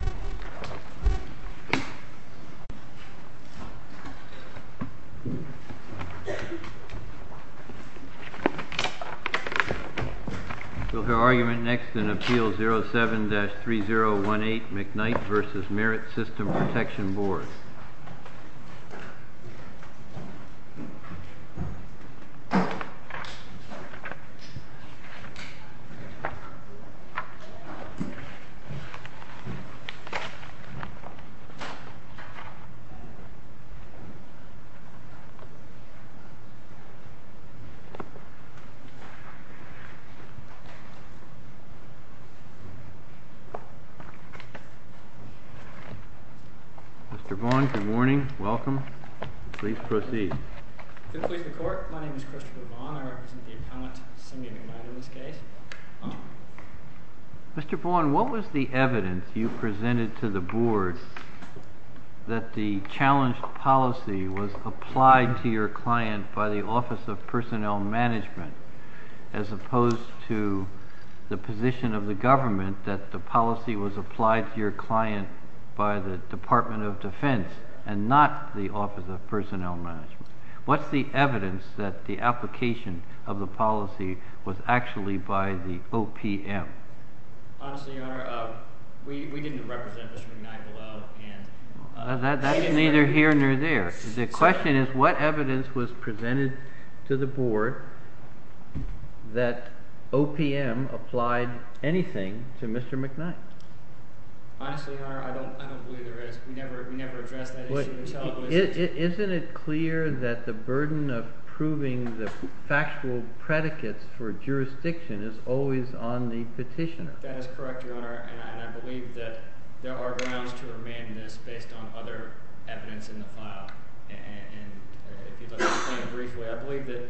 We will hear argument next in Appeal 07-3018 McKnight v. Merit System Protection Board. Mr. Vaughn, good morning. Welcome. Please proceed. Mr. Vaughn, good morning. Welcome. Please proceed. Good morning. My name is Christopher Vaughn. I represent the appellant, Cindy McKnight, in this case. Mr. Vaughn, what was the evidence you presented to the board that the challenged policy was applied to your client by the Office of Personnel Management, as opposed to the position of the government that the policy was applied to your client by the Department of Defense and not the Office of Personnel Management? What's the evidence that the application of the policy was actually by the OPM? Honestly, Your Honor, we didn't represent Mr. McKnight below. That's neither here nor there. The question is, what evidence was presented to the board that OPM applied anything to Mr. McKnight? Honestly, Your Honor, I don't believe there is. We never addressed that issue. Isn't it clear that the burden of proving the factual predicates for jurisdiction is always on the petitioner? That is correct, Your Honor, and I believe that there are grounds to remain in this based on other evidence in the file. And if you'd like to explain briefly, I believe that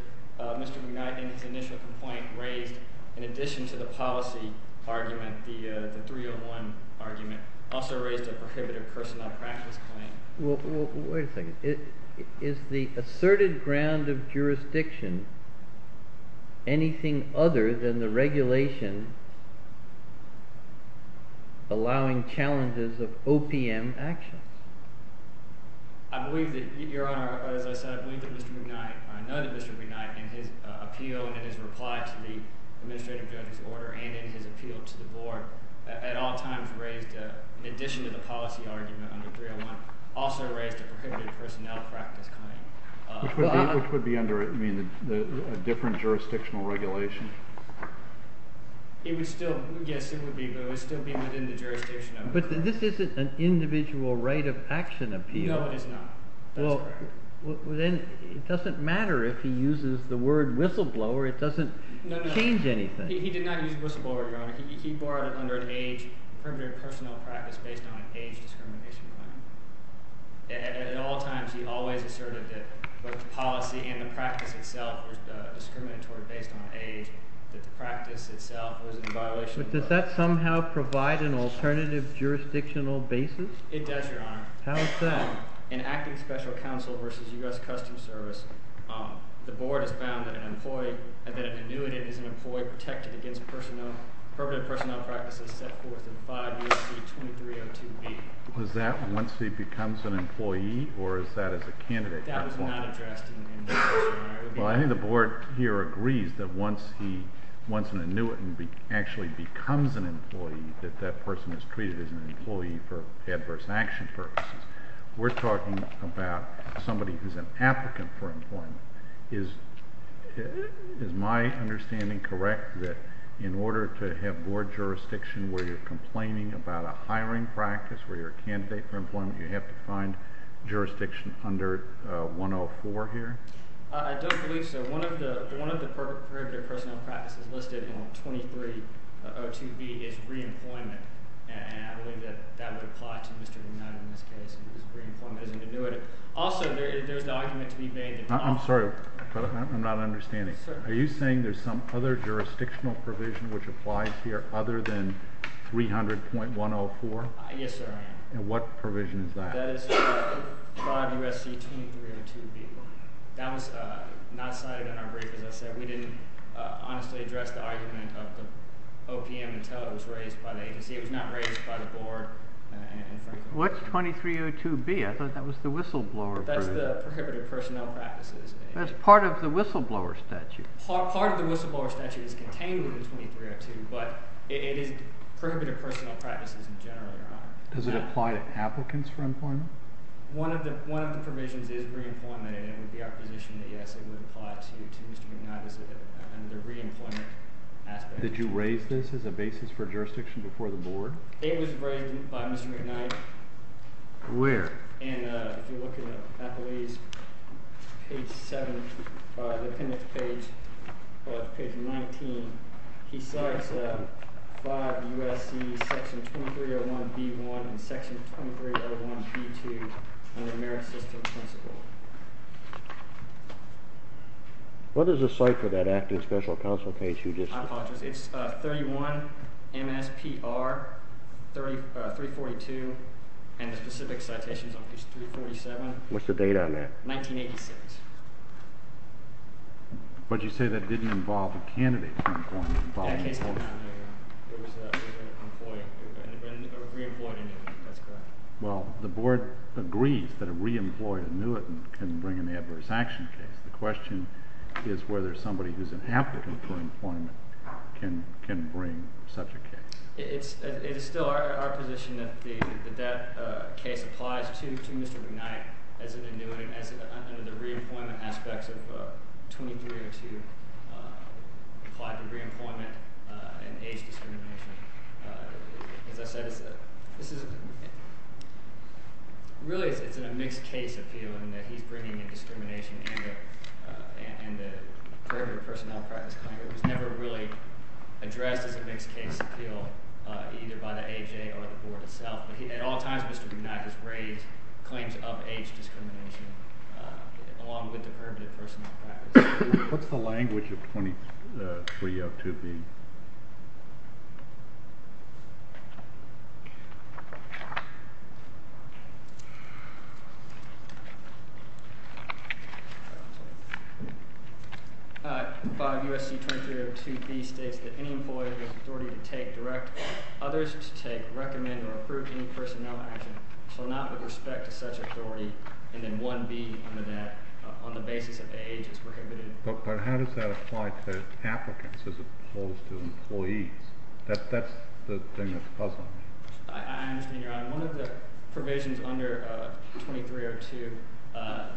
Mr. McKnight, in his initial complaint, raised, in addition to the policy argument, the 301 argument, also raised a prohibitive personnel practice claim. Well, wait a second. Is the asserted ground of jurisdiction anything other than the regulation allowing challenges of OPM action? I believe that, Your Honor, as I said, I believe that Mr. McKnight, in his appeal and in his reply to the administrative judge's order and in his appeal to the board, at all times raised, in addition to the policy argument under 301, also raised a prohibitive personnel practice claim. Which would be under a different jurisdictional regulation? Yes, it would be, but it would still be within the jurisdiction of the court. But this isn't an individual right of action appeal. No, it is not. That's correct. Well, then it doesn't matter if he uses the word whistleblower. It doesn't change anything. He did not use whistleblower, Your Honor. He borrowed it under an age prohibitive personnel practice based on an age discrimination claim. At all times, he always asserted that both the policy and the practice itself were discriminatory based on age, that the practice itself was in violation of the law. But does that somehow provide an alternative jurisdictional basis? It does, Your Honor. How is that? In Acting Special Counsel v. U.S. Customs Service, the board has found that an annuitant is an employee protected against prohibitive personnel practices set forth in 5 U.S.C. 2302B. Was that once he becomes an employee or is that as a candidate? That was not addressed in this case, Your Honor. Well, I think the board here agrees that once an annuitant actually becomes an employee, that that person is treated as an employee for adverse action purposes. We're talking about somebody who's an applicant for employment. Is my understanding correct that in order to have board jurisdiction where you're complaining about a hiring practice where you're a candidate for employment, you have to find jurisdiction under 104 here? I don't believe so. One of the prohibitive personnel practices listed in 2302B is reemployment, and I believe that that would apply to Mr. United in this case because reemployment is an annuitant. Also, there's the argument to be made that… I'm sorry, but I'm not understanding. Sir? Are you saying there's some other jurisdictional provision which applies here other than 300.104? Yes, sir. And what provision is that? That is part of USC 2302B. That was not cited in our brief. As I said, we didn't honestly address the argument of the OPM until it was raised by the agency. It was not raised by the board. What's 2302B? I thought that was the whistleblower. That's the prohibitive personnel practices. That's part of the whistleblower statute. Part of the whistleblower statute is contained in 2302, but it is prohibitive personnel practices in general, Your Honor. Does it apply to applicants for employment? One of the provisions is reemployment, and it would be our position that, yes, it would apply to Mr. McKnight as a reemployment aspect. Did you raise this as a basis for jurisdiction before the board? It was raised by Mr. McKnight. Where? And if you look at Appellee's page 7, the appendix page, page 19, he cites five USC Section 2301B1 and Section 2301B2 under merit system principle. What is the site for that active special counsel case you just cited? It's 31 MSPR 342, and the specific citation is on page 347. What's the date on that? 1986. But you say that didn't involve a candidate for employment following the case? That case did not involve a candidate for employment. It was a reemployment annuitant. That's correct. Well, the board agrees that a reemployment annuitant can bring an adverse action case. The question is whether somebody who's an applicant for employment can bring such a case. It is still our position that that case applies to Mr. McKnight as an annuitant under the reemployment aspects of 2302, applied to reemployment and age discrimination. As I said, really it's in a mixed case appeal in that he's bringing in discrimination and the permanent personnel practice claim. It was never really addressed as a mixed case appeal, either by the AJ or the board itself. At all times, Mr. McKnight has raised claims of age discrimination along with the permanent personnel practice. What's the language of 2302B? 5 U.S.C. 2302B states that any employee with authority to take, direct others to take, recommend, or approve any personnel action shall not with respect to such authority. And then 1B under that, on the basis of age is prohibited. But how does that apply to applicants as opposed to employees? That's the thing that's puzzling me. I understand, Your Honor. One of the provisions under 2302,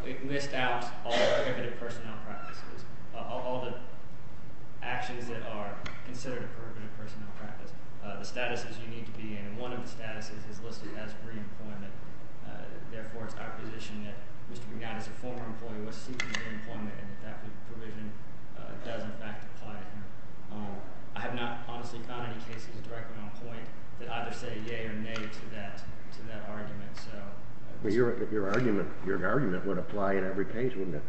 it lists out all the actions that are considered a prohibitive personnel practice. The statuses you need to be in, and one of the statuses is listed as reemployment. Therefore, it's our position that Mr. McKnight, as a former employee, was seeking reemployment, and that provision does in fact apply here. I have not honestly found any cases directly on point that either say yea or nay to that argument. Your argument would apply in every case, wouldn't it?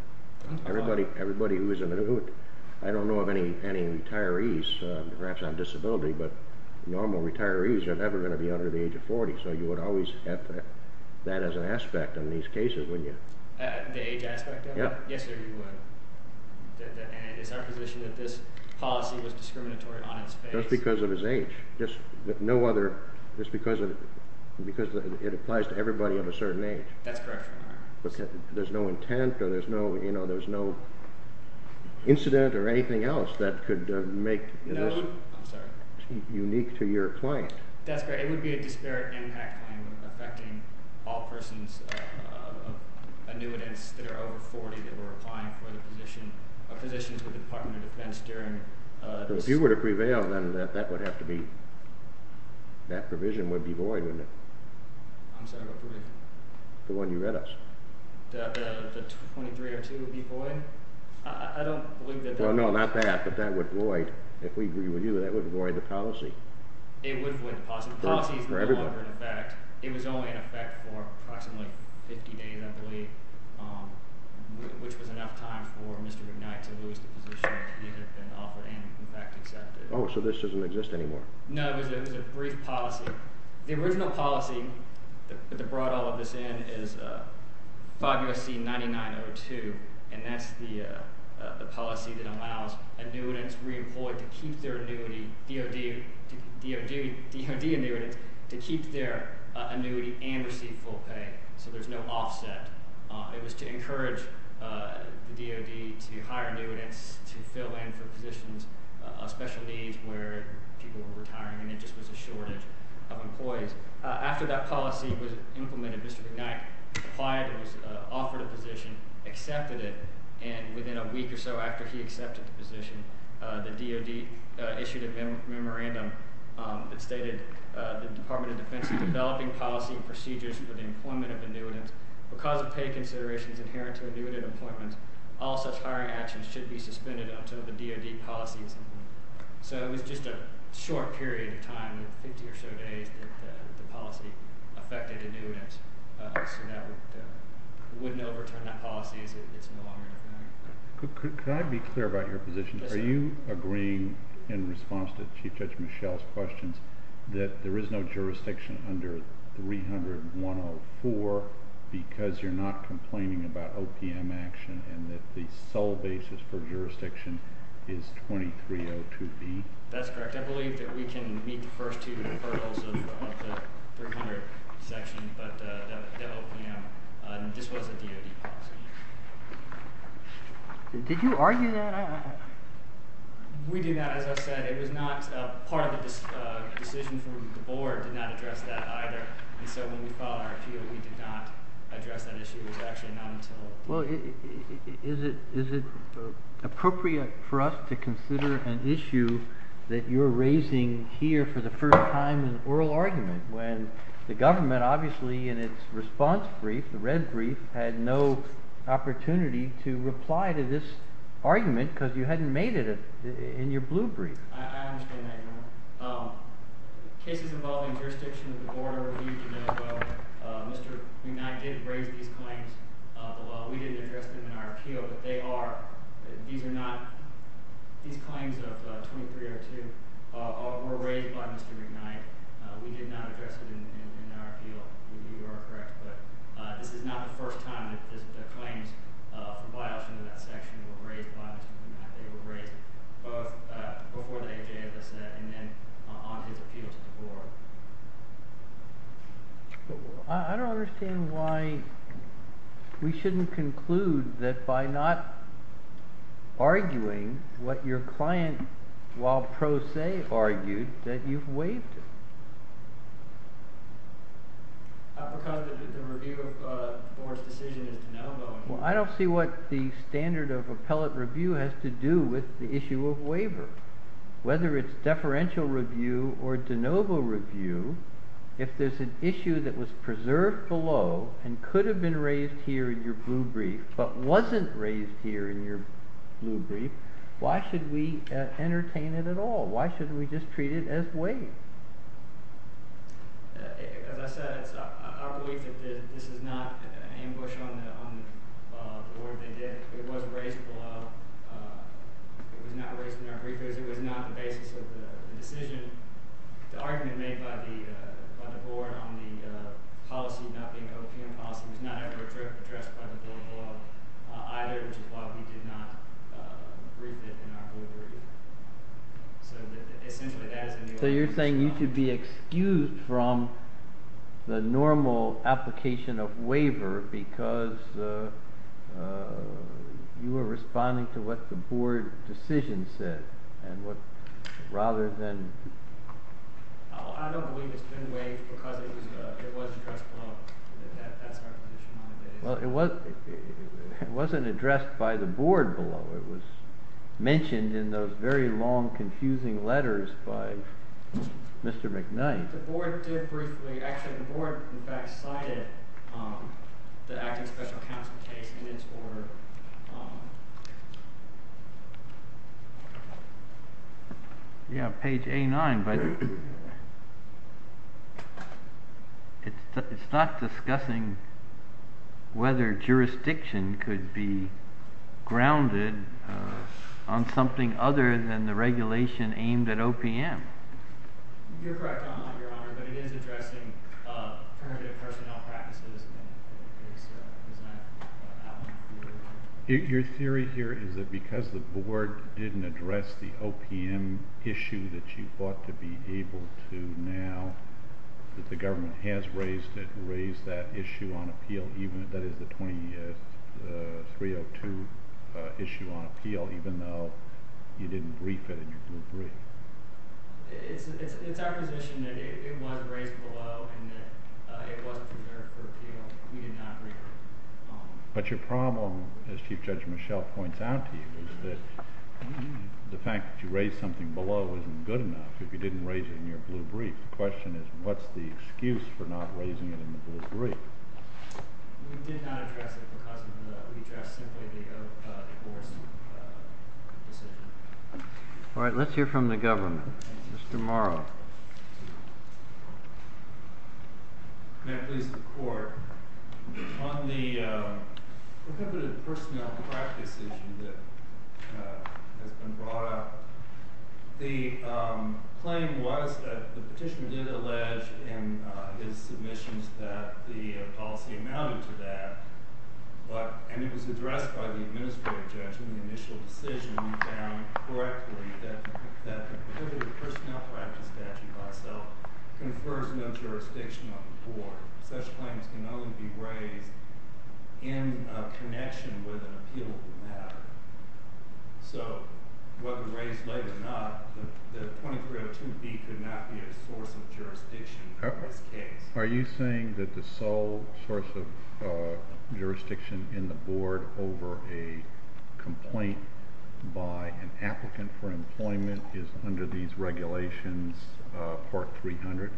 I don't know of any retirees, perhaps on disability, but normal retirees are never going to be under the age of 40. So you would always have that as an aspect in these cases, wouldn't you? The age aspect of it? Yes, sir, you would. And it's our position that this policy was discriminatory on its face. Just because of his age. Just because it applies to everybody of a certain age. That's correct, Your Honor. There's no intent or there's no incident or anything else that could make this unique to your client. That's correct. It would be a disparate impact claim affecting all persons of annuitants that are over 40 that were applying for positions with the Department of Defense. If you were to prevail, then that would have to be, that provision would be void, wouldn't it? I'm sorry, what provision? The one you read us. The 2302 would be void? I don't believe that. Well, no, not that, but that would void, if we were you, that would void the policy. It would void the policy. The policy is no longer in effect. It was only in effect for approximately 50 days, I believe, which was enough time for Mr. McKnight to lose the position he had been offered and, in fact, accepted. Oh, so this doesn't exist anymore? No, it was a brief policy. The original policy that brought all of this in is 5 U.S.C. 9902, and that's the policy that allows annuitants reemployed to keep their annuity, DOD annuitants, to keep their annuity and receive full pay, so there's no offset. It was to encourage the DOD to hire annuitants to fill in for positions of special needs where people were retiring and there just was a shortage of employees. After that policy was implemented, Mr. McKnight applied, was offered a position, accepted it, and within a week or so after he accepted the position, the DOD issued a memorandum that stated, the Department of Defense is developing policy and procedures for the employment of annuitants. Because of pay considerations inherent to annuitant employment, all such hiring actions should be suspended until the DOD policy is implemented. So it was just a short period of time, 50 or so days, that the policy affected annuitants, so that wouldn't overturn that policy. It's no longer in effect. Could I be clear about your position? Are you agreeing in response to Chief Judge Michel's questions that there is no jurisdiction under 300.104 because you're not complaining about OPM action and that the sole basis for jurisdiction is 2302B? That's correct. I believe that we can meet the first two hurdles of the 300 section, but the OPM, this was a DOD policy. Did you argue that? We did not. As I said, it was not part of the decision from the board, did not address that either. And so when we filed our appeal, we did not address that issue. It was actually not until... Well, is it appropriate for us to consider an issue that you're raising here for the first time in oral argument when the government, obviously, in its response brief, the red brief, had no opportunity to reply to this argument because you hadn't made it in your blue brief? I understand that, Your Honor. Cases involving jurisdiction that the board overheard a minute ago, Mr. McKnight did raise these claims. We didn't address them in our appeal, but they are, these are not, these claims of 2302 were raised by Mr. McKnight. We did not address them in our appeal. You are correct, but this is not the first time that the claims filed in that section were raised by Mr. McKnight. They were raised both before the AHA, as I said, and then on his appeal to the board. I don't understand why we shouldn't conclude that by not arguing what your client, while pro se, argued, that you've waived it. I don't see what the standard of appellate review has to do with the issue of waiver. Whether it's deferential review or de novo review, if there's an issue that was preserved below and could have been raised here in your blue brief but wasn't raised here in your blue brief, why should we entertain it at all? Why shouldn't we just treat it as waived? As I said, I believe that this is not an ambush on the board. It was raised below. It was not raised in our brief because it was not the basis of the decision. The argument made by the board on the policy not being an OPM policy was not ever addressed by the blue brief, either, which is why we did not brief it in our blue brief. So you're saying you should be excused from the normal application of waiver because you were responding to what the board decision said? I don't believe it's been waived because it was addressed below. That's our position on it. Well, it wasn't addressed by the board below. It was mentioned in those very long, confusing letters by Mr. McKnight. Yeah, page A-9, but it's not discussing whether jurisdiction could be grounded on something other than the regulation aimed at OPM. You're correct, Your Honor, but it is addressing permanent personnel practices. Your theory here is that because the board didn't address the OPM issue that you ought to be able to now, that the government has raised it, raised that issue on appeal, that is, the 2003-2002 issue on appeal, even though you didn't brief it in your blue brief. It's our position that it was raised below and that it wasn't prepared for appeal. We did not brief it. We did not address it because of the—we addressed simply the board's decision. Thank you. May it please the Court, on the prohibited personnel practice issue that has been brought up, the claim was that the petitioner did allege in his submissions that the policy amounted to that, and it was addressed by the administrative judge in the initial decision, and we found correctly that the prohibited personnel practice statute by itself confers no jurisdiction on the board. Such claims can only be raised in connection with an appealable matter. So, whether raised late or not, the 2302B could not be a source of jurisdiction for this case. Are you saying that the sole source of jurisdiction in the board over a complaint by an applicant for employment is under these regulations, Part 300?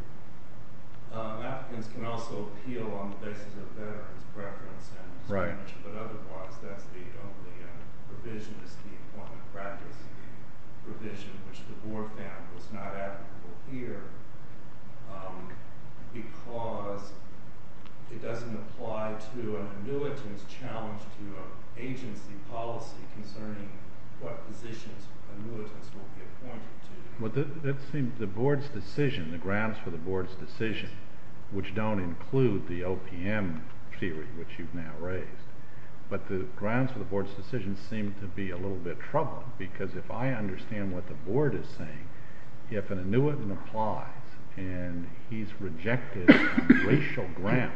Applicants can also appeal on the basis of veterans' preference and signature, but otherwise that's the only provision. It's the employment practice provision, which the board found was not applicable here because it doesn't apply to an annuitant's challenge to an agency policy concerning what positions annuitants will be appointed to. Which don't include the OPM theory, which you've now raised. But the grounds for the board's decision seem to be a little bit troubling, because if I understand what the board is saying, if an annuitant applies and he's rejected on racial grounds,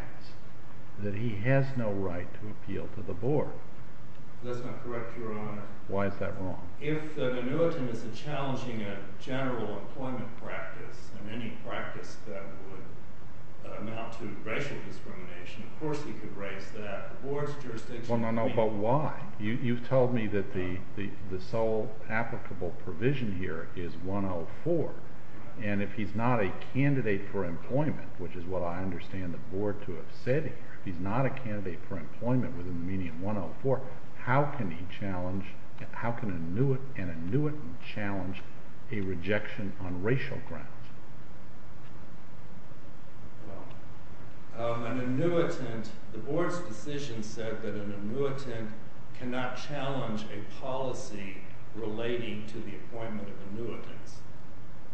that he has no right to appeal to the board. That's not correct, Your Honor. Why is that wrong? If an annuitant is challenging a general employment practice, and any practice that would amount to racial discrimination, of course he could raise that. The board's jurisdiction... Well, no, no, but why? You've told me that the sole applicable provision here is 104. And if he's not a candidate for employment, which is what I understand the board to have said, if he's not a candidate for employment within the meaning of 104, how can an annuitant challenge a rejection on racial grounds? Well, an annuitant, the board's decision said that an annuitant cannot challenge a policy relating to the appointment of annuitants.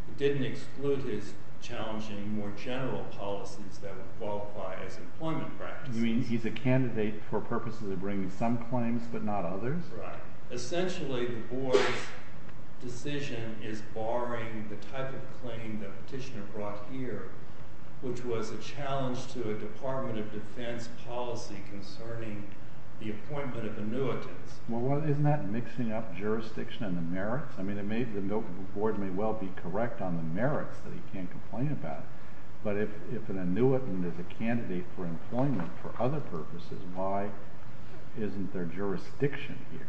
It didn't exclude his challenging more general policies that would qualify as employment practices. You mean he's a candidate for purposes of bringing some claims, but not others? Essentially, the board's decision is barring the type of claim the petitioner brought here, which was a challenge to a Department of Defense policy concerning the appointment of annuitants. Well, isn't that mixing up jurisdiction and the merits? I mean, the board may well be correct on the merits that he can't complain about. But if an annuitant is a candidate for employment for other purposes, why isn't there jurisdiction here?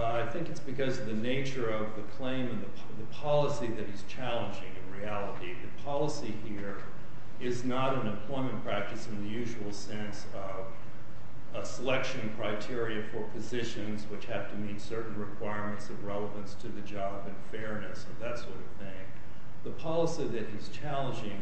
I think it's because of the nature of the claim and the policy that is challenging in reality. The policy here is not an appointment practice in the usual sense of a selection criteria for positions which have to meet certain requirements of relevance to the job and fairness and that sort of thing. The policy that is challenging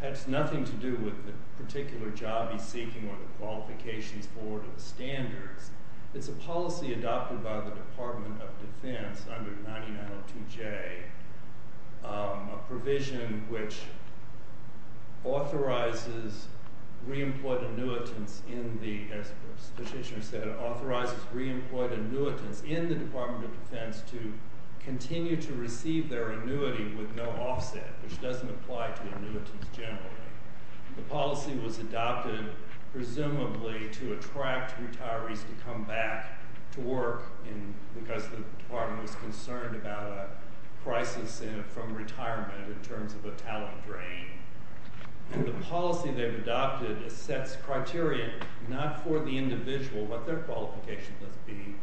has nothing to do with the particular job he's seeking or the qualifications for it or the standards. It's a policy adopted by the Department of Defense under 9902J, a provision which authorizes re-employed annuitants in the – as the petitioner said, authorizes re-employed annuitants in the Department of Defense to continue to receive their annuity with no offset, which doesn't apply to annuitants generally. The policy was adopted presumably to attract retirees to come back to work because the department was concerned about a crisis from retirement in terms of a talent drain. And the policy they've adopted sets criteria not for the individual, what their qualifications must be,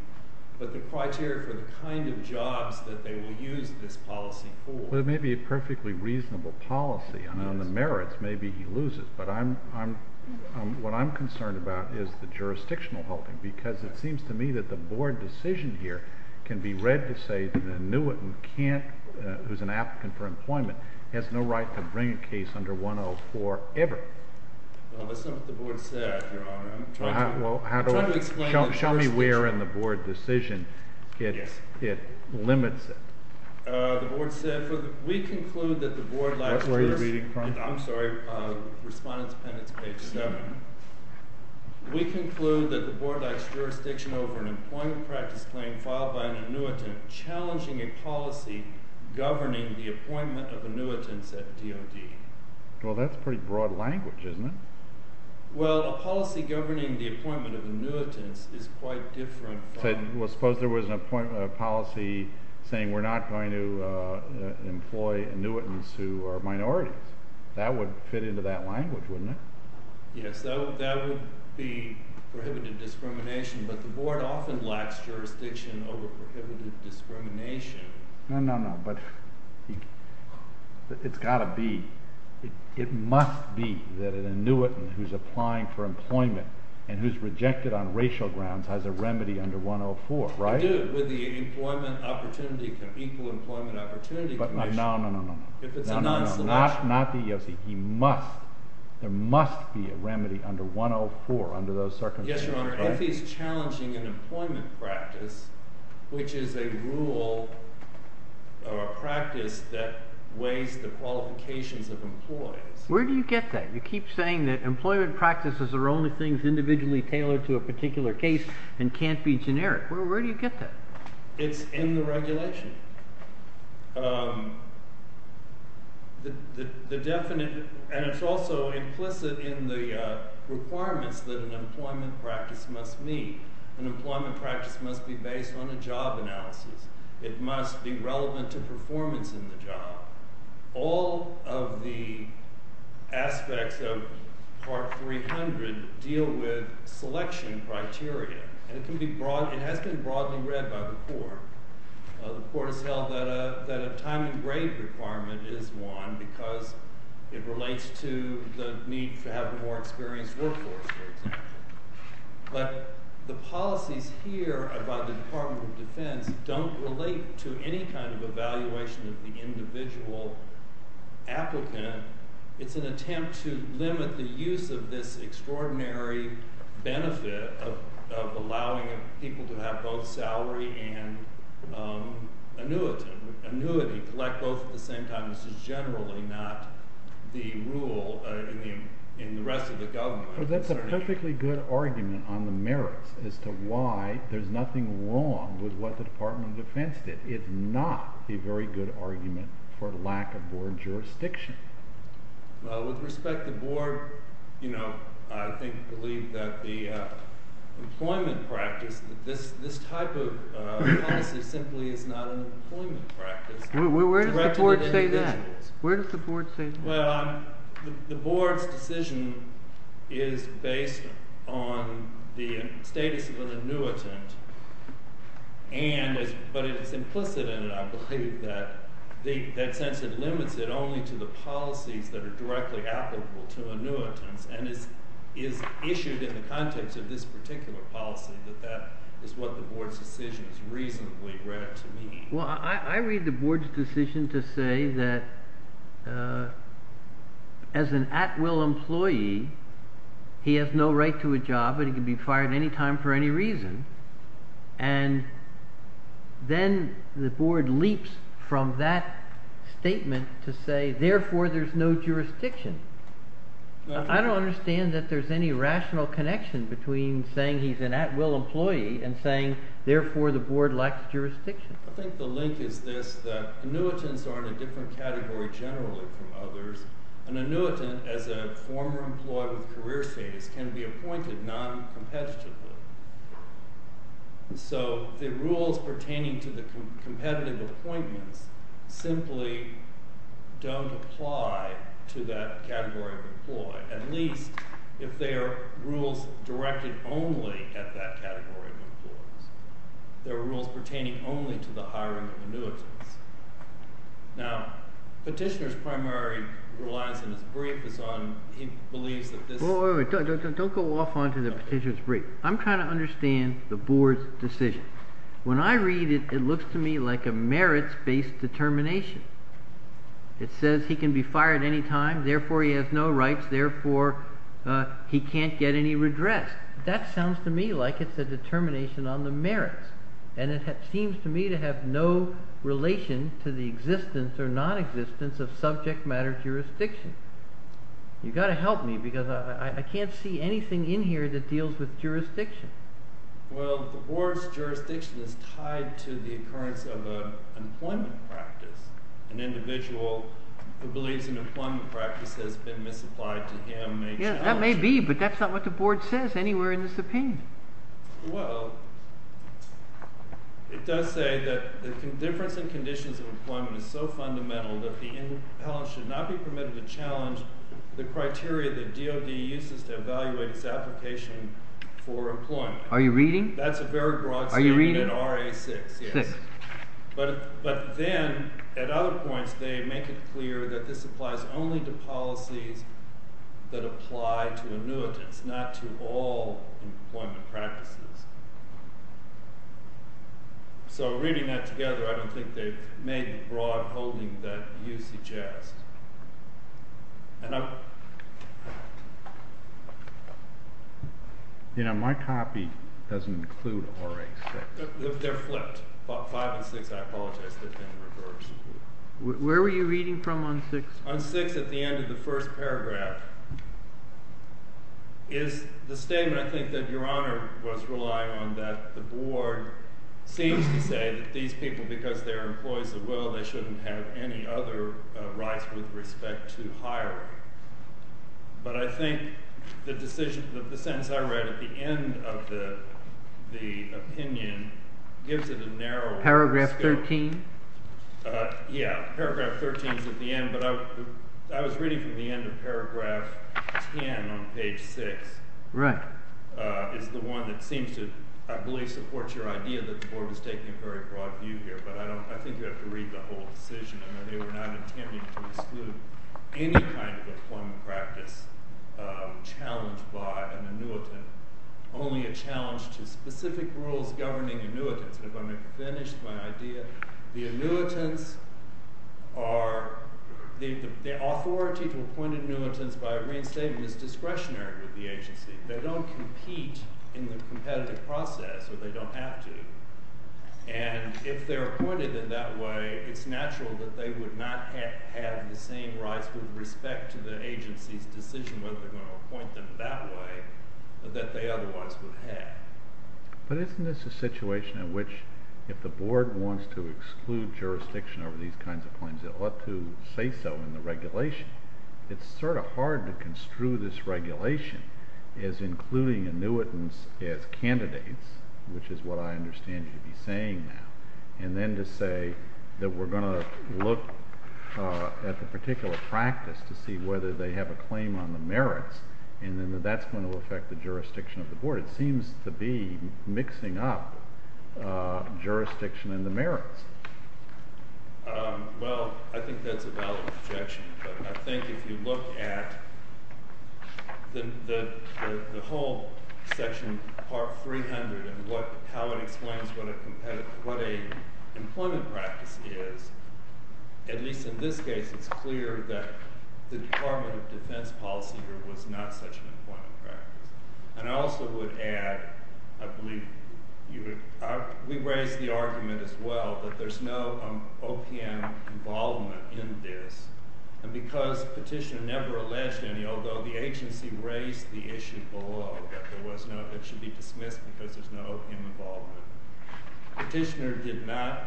but the criteria for the kind of jobs that they will use this policy for. Well, it may be a perfectly reasonable policy. On the merits, maybe he loses. But I'm – what I'm concerned about is the jurisdictional holding because it seems to me that the board decision here can be read to say that an annuitant can't – who's an applicant for employment has no right to bring a case under 104 ever. Well, that's not what the board said, Your Honor. I'm trying to – Well, how do I – I'm trying to explain the jurisdiction. Show me where in the board decision it limits it. The board said we conclude that the board likes – That's where you're reading from? I'm sorry. Respondents' appendix, page 7. We conclude that the board likes jurisdiction over an employment practice claim filed by an annuitant challenging a policy governing the appointment of annuitants at DOD. Well, that's pretty broad language, isn't it? Well, a policy governing the appointment of annuitants is quite different from – Employ annuitants who are minorities. That would fit into that language, wouldn't it? Yes. That would be prohibited discrimination. But the board often likes jurisdiction over prohibited discrimination. No, no, no. But it's got to be – it must be that an annuitant who's applying for employment and who's rejected on racial grounds has a remedy under 104, right? They do with the equal employment opportunity condition. No, no, no, no, no. If it's a non-selection. Not the – he must – there must be a remedy under 104 under those circumstances, right? Yes, Your Honor. If he's challenging an employment practice, which is a rule or a practice that weighs the qualifications of employees. Where do you get that? You keep saying that employment practices are only things individually tailored to a particular case and can't be generic. Where do you get that? It's in the regulation. The definite – and it's also implicit in the requirements that an employment practice must meet. An employment practice must be based on a job analysis. It must be relevant to performance in the job. All of the aspects of Part 300 deal with selection criteria. And it can be broad – it has been broadly read by the court. The court has held that a time and grade requirement is one because it relates to the need to have a more experienced workforce, for example. But the policies here by the Department of Defense don't relate to any kind of evaluation of the individual applicant. It's an attempt to limit the use of this extraordinary benefit of allowing people to have both salary and annuity, collect both at the same time. This is generally not the rule in the rest of the government. But that's a perfectly good argument on the merits as to why there's nothing wrong with what the Department of Defense did. It's not a very good argument for lack of board jurisdiction. With respect to board, I believe that the employment practice – this type of policy simply is not an employment practice. Where does the board say that? Well, the board's decision is based on the status of an annuitant. But it's implicit in it, I believe, that since it limits it only to the policies that are directly applicable to annuitants and is issued in the context of this particular policy, that that is what the board's decision has reasonably read to me. Well, I read the board's decision to say that as an at-will employee, he has no right to a job and he can be fired any time for any reason. And then the board leaps from that statement to say, therefore, there's no jurisdiction. I don't understand that there's any rational connection between saying he's an at-will employee and saying, therefore, the board lacks jurisdiction. I think the link is this, that annuitants are in a different category generally from others. An annuitant, as a former employee with career status, can be appointed noncompetitively. So the rules pertaining to the competitive appointments simply don't apply to that category of employee, at least if they are rules directed only at that category of employees. There are rules pertaining only to the hiring of annuitants. Now, petitioner's primary relies in his brief is on, he believes that this… Don't go off onto the petitioner's brief. I'm trying to understand the board's decision. When I read it, it looks to me like a merits-based determination. It says he can be fired any time, therefore, he has no rights, therefore, he can't get any redress. That sounds to me like it's a determination on the merits. And it seems to me to have no relation to the existence or nonexistence of subject matter jurisdiction. You've got to help me because I can't see anything in here that deals with jurisdiction. Well, the board's jurisdiction is tied to the occurrence of an employment practice. An individual who believes an employment practice has been misapplied to him… That may be, but that's not what the board says anywhere in this opinion. Well, it does say that the difference in conditions of employment is so fundamental that the impellant should not be permitted to challenge the criteria that DOD uses to evaluate its application for employment. Are you reading? That's a very broad statement in RA 6. But then, at other points, they make it clear that this applies only to policies that apply to annuitants, not to all employment practices. So reading that together, I don't think they've made the broad holding that you suggest. You know, my copy doesn't include RA 6. They're flipped. 5 and 6, I apologize. They've been reversed. Where were you reading from on 6? On 6, at the end of the first paragraph, is the statement, I think, that Your Honor was relying on, that the board seems to say that these people, because they're employees of will, they shouldn't have any other rights with respect to hiring. But I think the sentence I read at the end of the opinion gives it a narrower scope. Paragraph 13? Yeah, paragraph 13 is at the end, but I was reading from the end of paragraph 10 on page 6. Right. It's the one that seems to, I believe, support your idea that the board was taking a very broad view here, but I think you have to read the whole decision. I mean, they were not intending to exclude any kind of employment practice challenged by an annuitant, only a challenge to specific rules governing annuitants. If I may finish my idea. The annuitants are, the authority to appoint annuitants by a reinstatement is discretionary with the agency. They don't compete in the competitive process, or they don't have to. And if they're appointed in that way, it's natural that they would not have the same rights with respect to the agency's decision whether they're going to appoint them that way that they otherwise would have. But isn't this a situation in which if the board wants to exclude jurisdiction over these kinds of claims, it ought to say so in the regulation? It's sort of hard to construe this regulation as including annuitants as candidates, which is what I understand you'd be saying now, and then to say that we're going to look at the particular practice to see whether they have a claim on the merits, and then that's going to affect the jurisdiction of the board. It seems to be mixing up jurisdiction and the merits. Well, I think that's a valid objection. I think if you look at the whole section, part 300, and how it explains what an employment practice is, at least in this case, it's clear that the Department of Defense policy here was not such an employment practice. And I also would add, I believe we raised the argument as well, that there's no OPM involvement in this. And because Petitioner never alleged any, although the agency raised the issue below, that it should be dismissed because there's no OPM involvement. Petitioner did not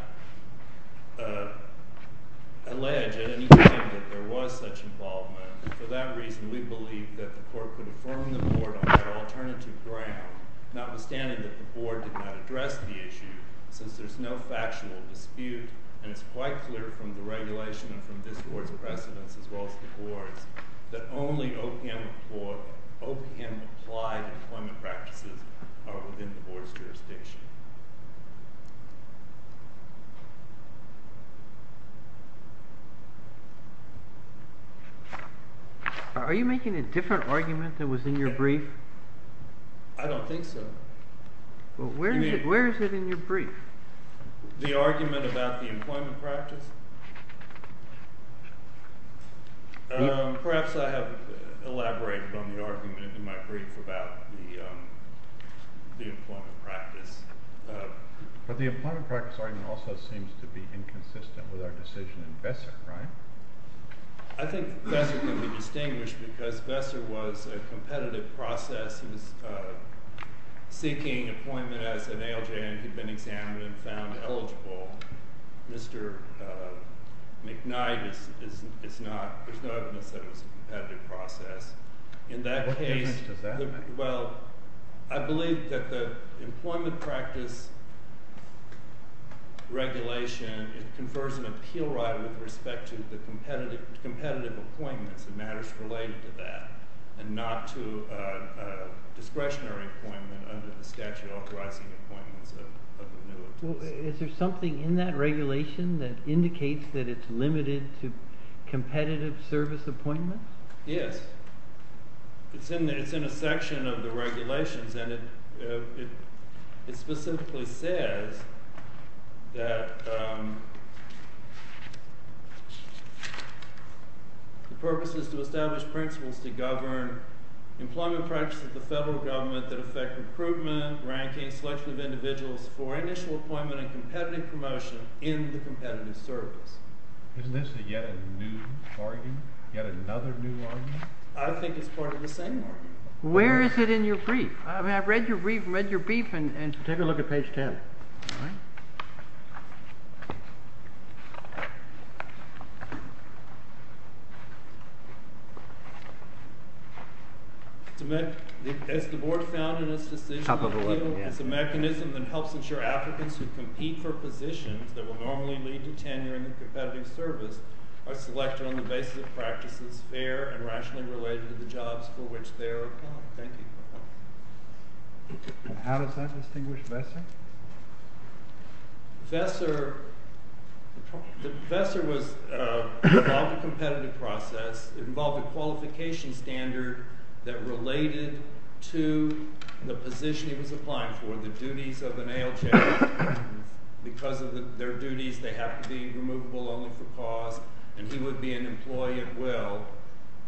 allege at any time that there was such involvement, and for that reason, we believe that the court could affirm the board on that alternative ground, notwithstanding that the board did not address the issue, since there's no factual dispute, and it's quite clear from the regulation and from this board's precedents as well as the board's, that only OPM-applied employment practices are within the board's jurisdiction. Are you making a different argument than was in your brief? I don't think so. Well, where is it in your brief? The argument about the employment practice? Perhaps I have elaborated on the argument in my brief about the employment practice. But the employment practice argument also seems to be inconsistent with our decision in Besser, right? I think Besser can be distinguished because Besser was a competitive process. He was seeking appointment as an ALJ, and he'd been examined and found eligible. Mr. McKnight is not—there's no evidence that it was a competitive process. In that case— What difference does that make? Well, I believe that the employment practice regulation, it confers an appeal right with respect to the competitive appointments and matters related to that and not to discretionary appointment under the statute authorizing appointments of renewables. Is there something in that regulation that indicates that it's limited to competitive service appointments? Yes. It's in a section of the regulations, and it specifically says that the purpose is to establish principles to govern employment practices of the federal government that affect recruitment, ranking, selection of individuals for initial appointment and competitive promotion in the competitive service. Isn't this yet a new argument, yet another new argument? I think it's part of the same argument. Where is it in your brief? I mean, I've read your brief and read your brief, and— Take a look at page 10. All right. It's a mechanism that helps ensure applicants who compete for positions that will normally lead to tenure in the competitive service are selected on the basis of practices fair and rationally related to the jobs for which they are applied. Thank you. And how does that distinguish Vesser? Vesser was—it involved a competitive process. It involved a qualification standard that related to the position he was applying for, the duties of an ALJ. Because of their duties, they have to be removable only for cause, and he would be an employee at will.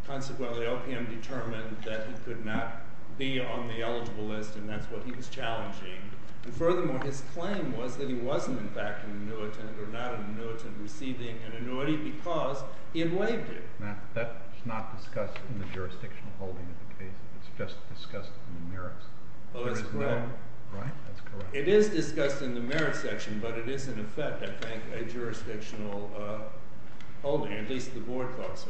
Consequently, OPM determined that he could not be on the eligible list, and that's what he was challenging. And furthermore, his claim was that he wasn't, in fact, an annuitant or not an annuitant receiving an annuity because he had waived it. Now, that's not discussed in the jurisdictional holding of the case. It's just discussed in the merits. Oh, that's correct. Right? That's correct. It is discussed in the merits section, but it is in effect, I think, a jurisdictional holding, at least the board thought so.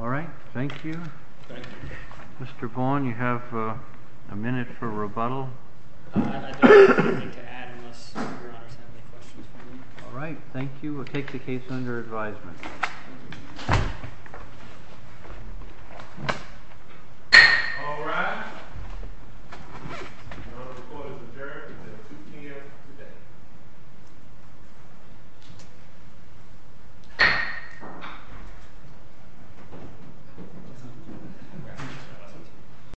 All right. Thank you. Thank you. Mr. Bourne, you have a minute for rebuttal. I don't have anything to add unless Your Honors have any questions for me. All right. Thank you. We'll take the case under advisement. All rise. The order of the court is adjourned until 2 p.m. today.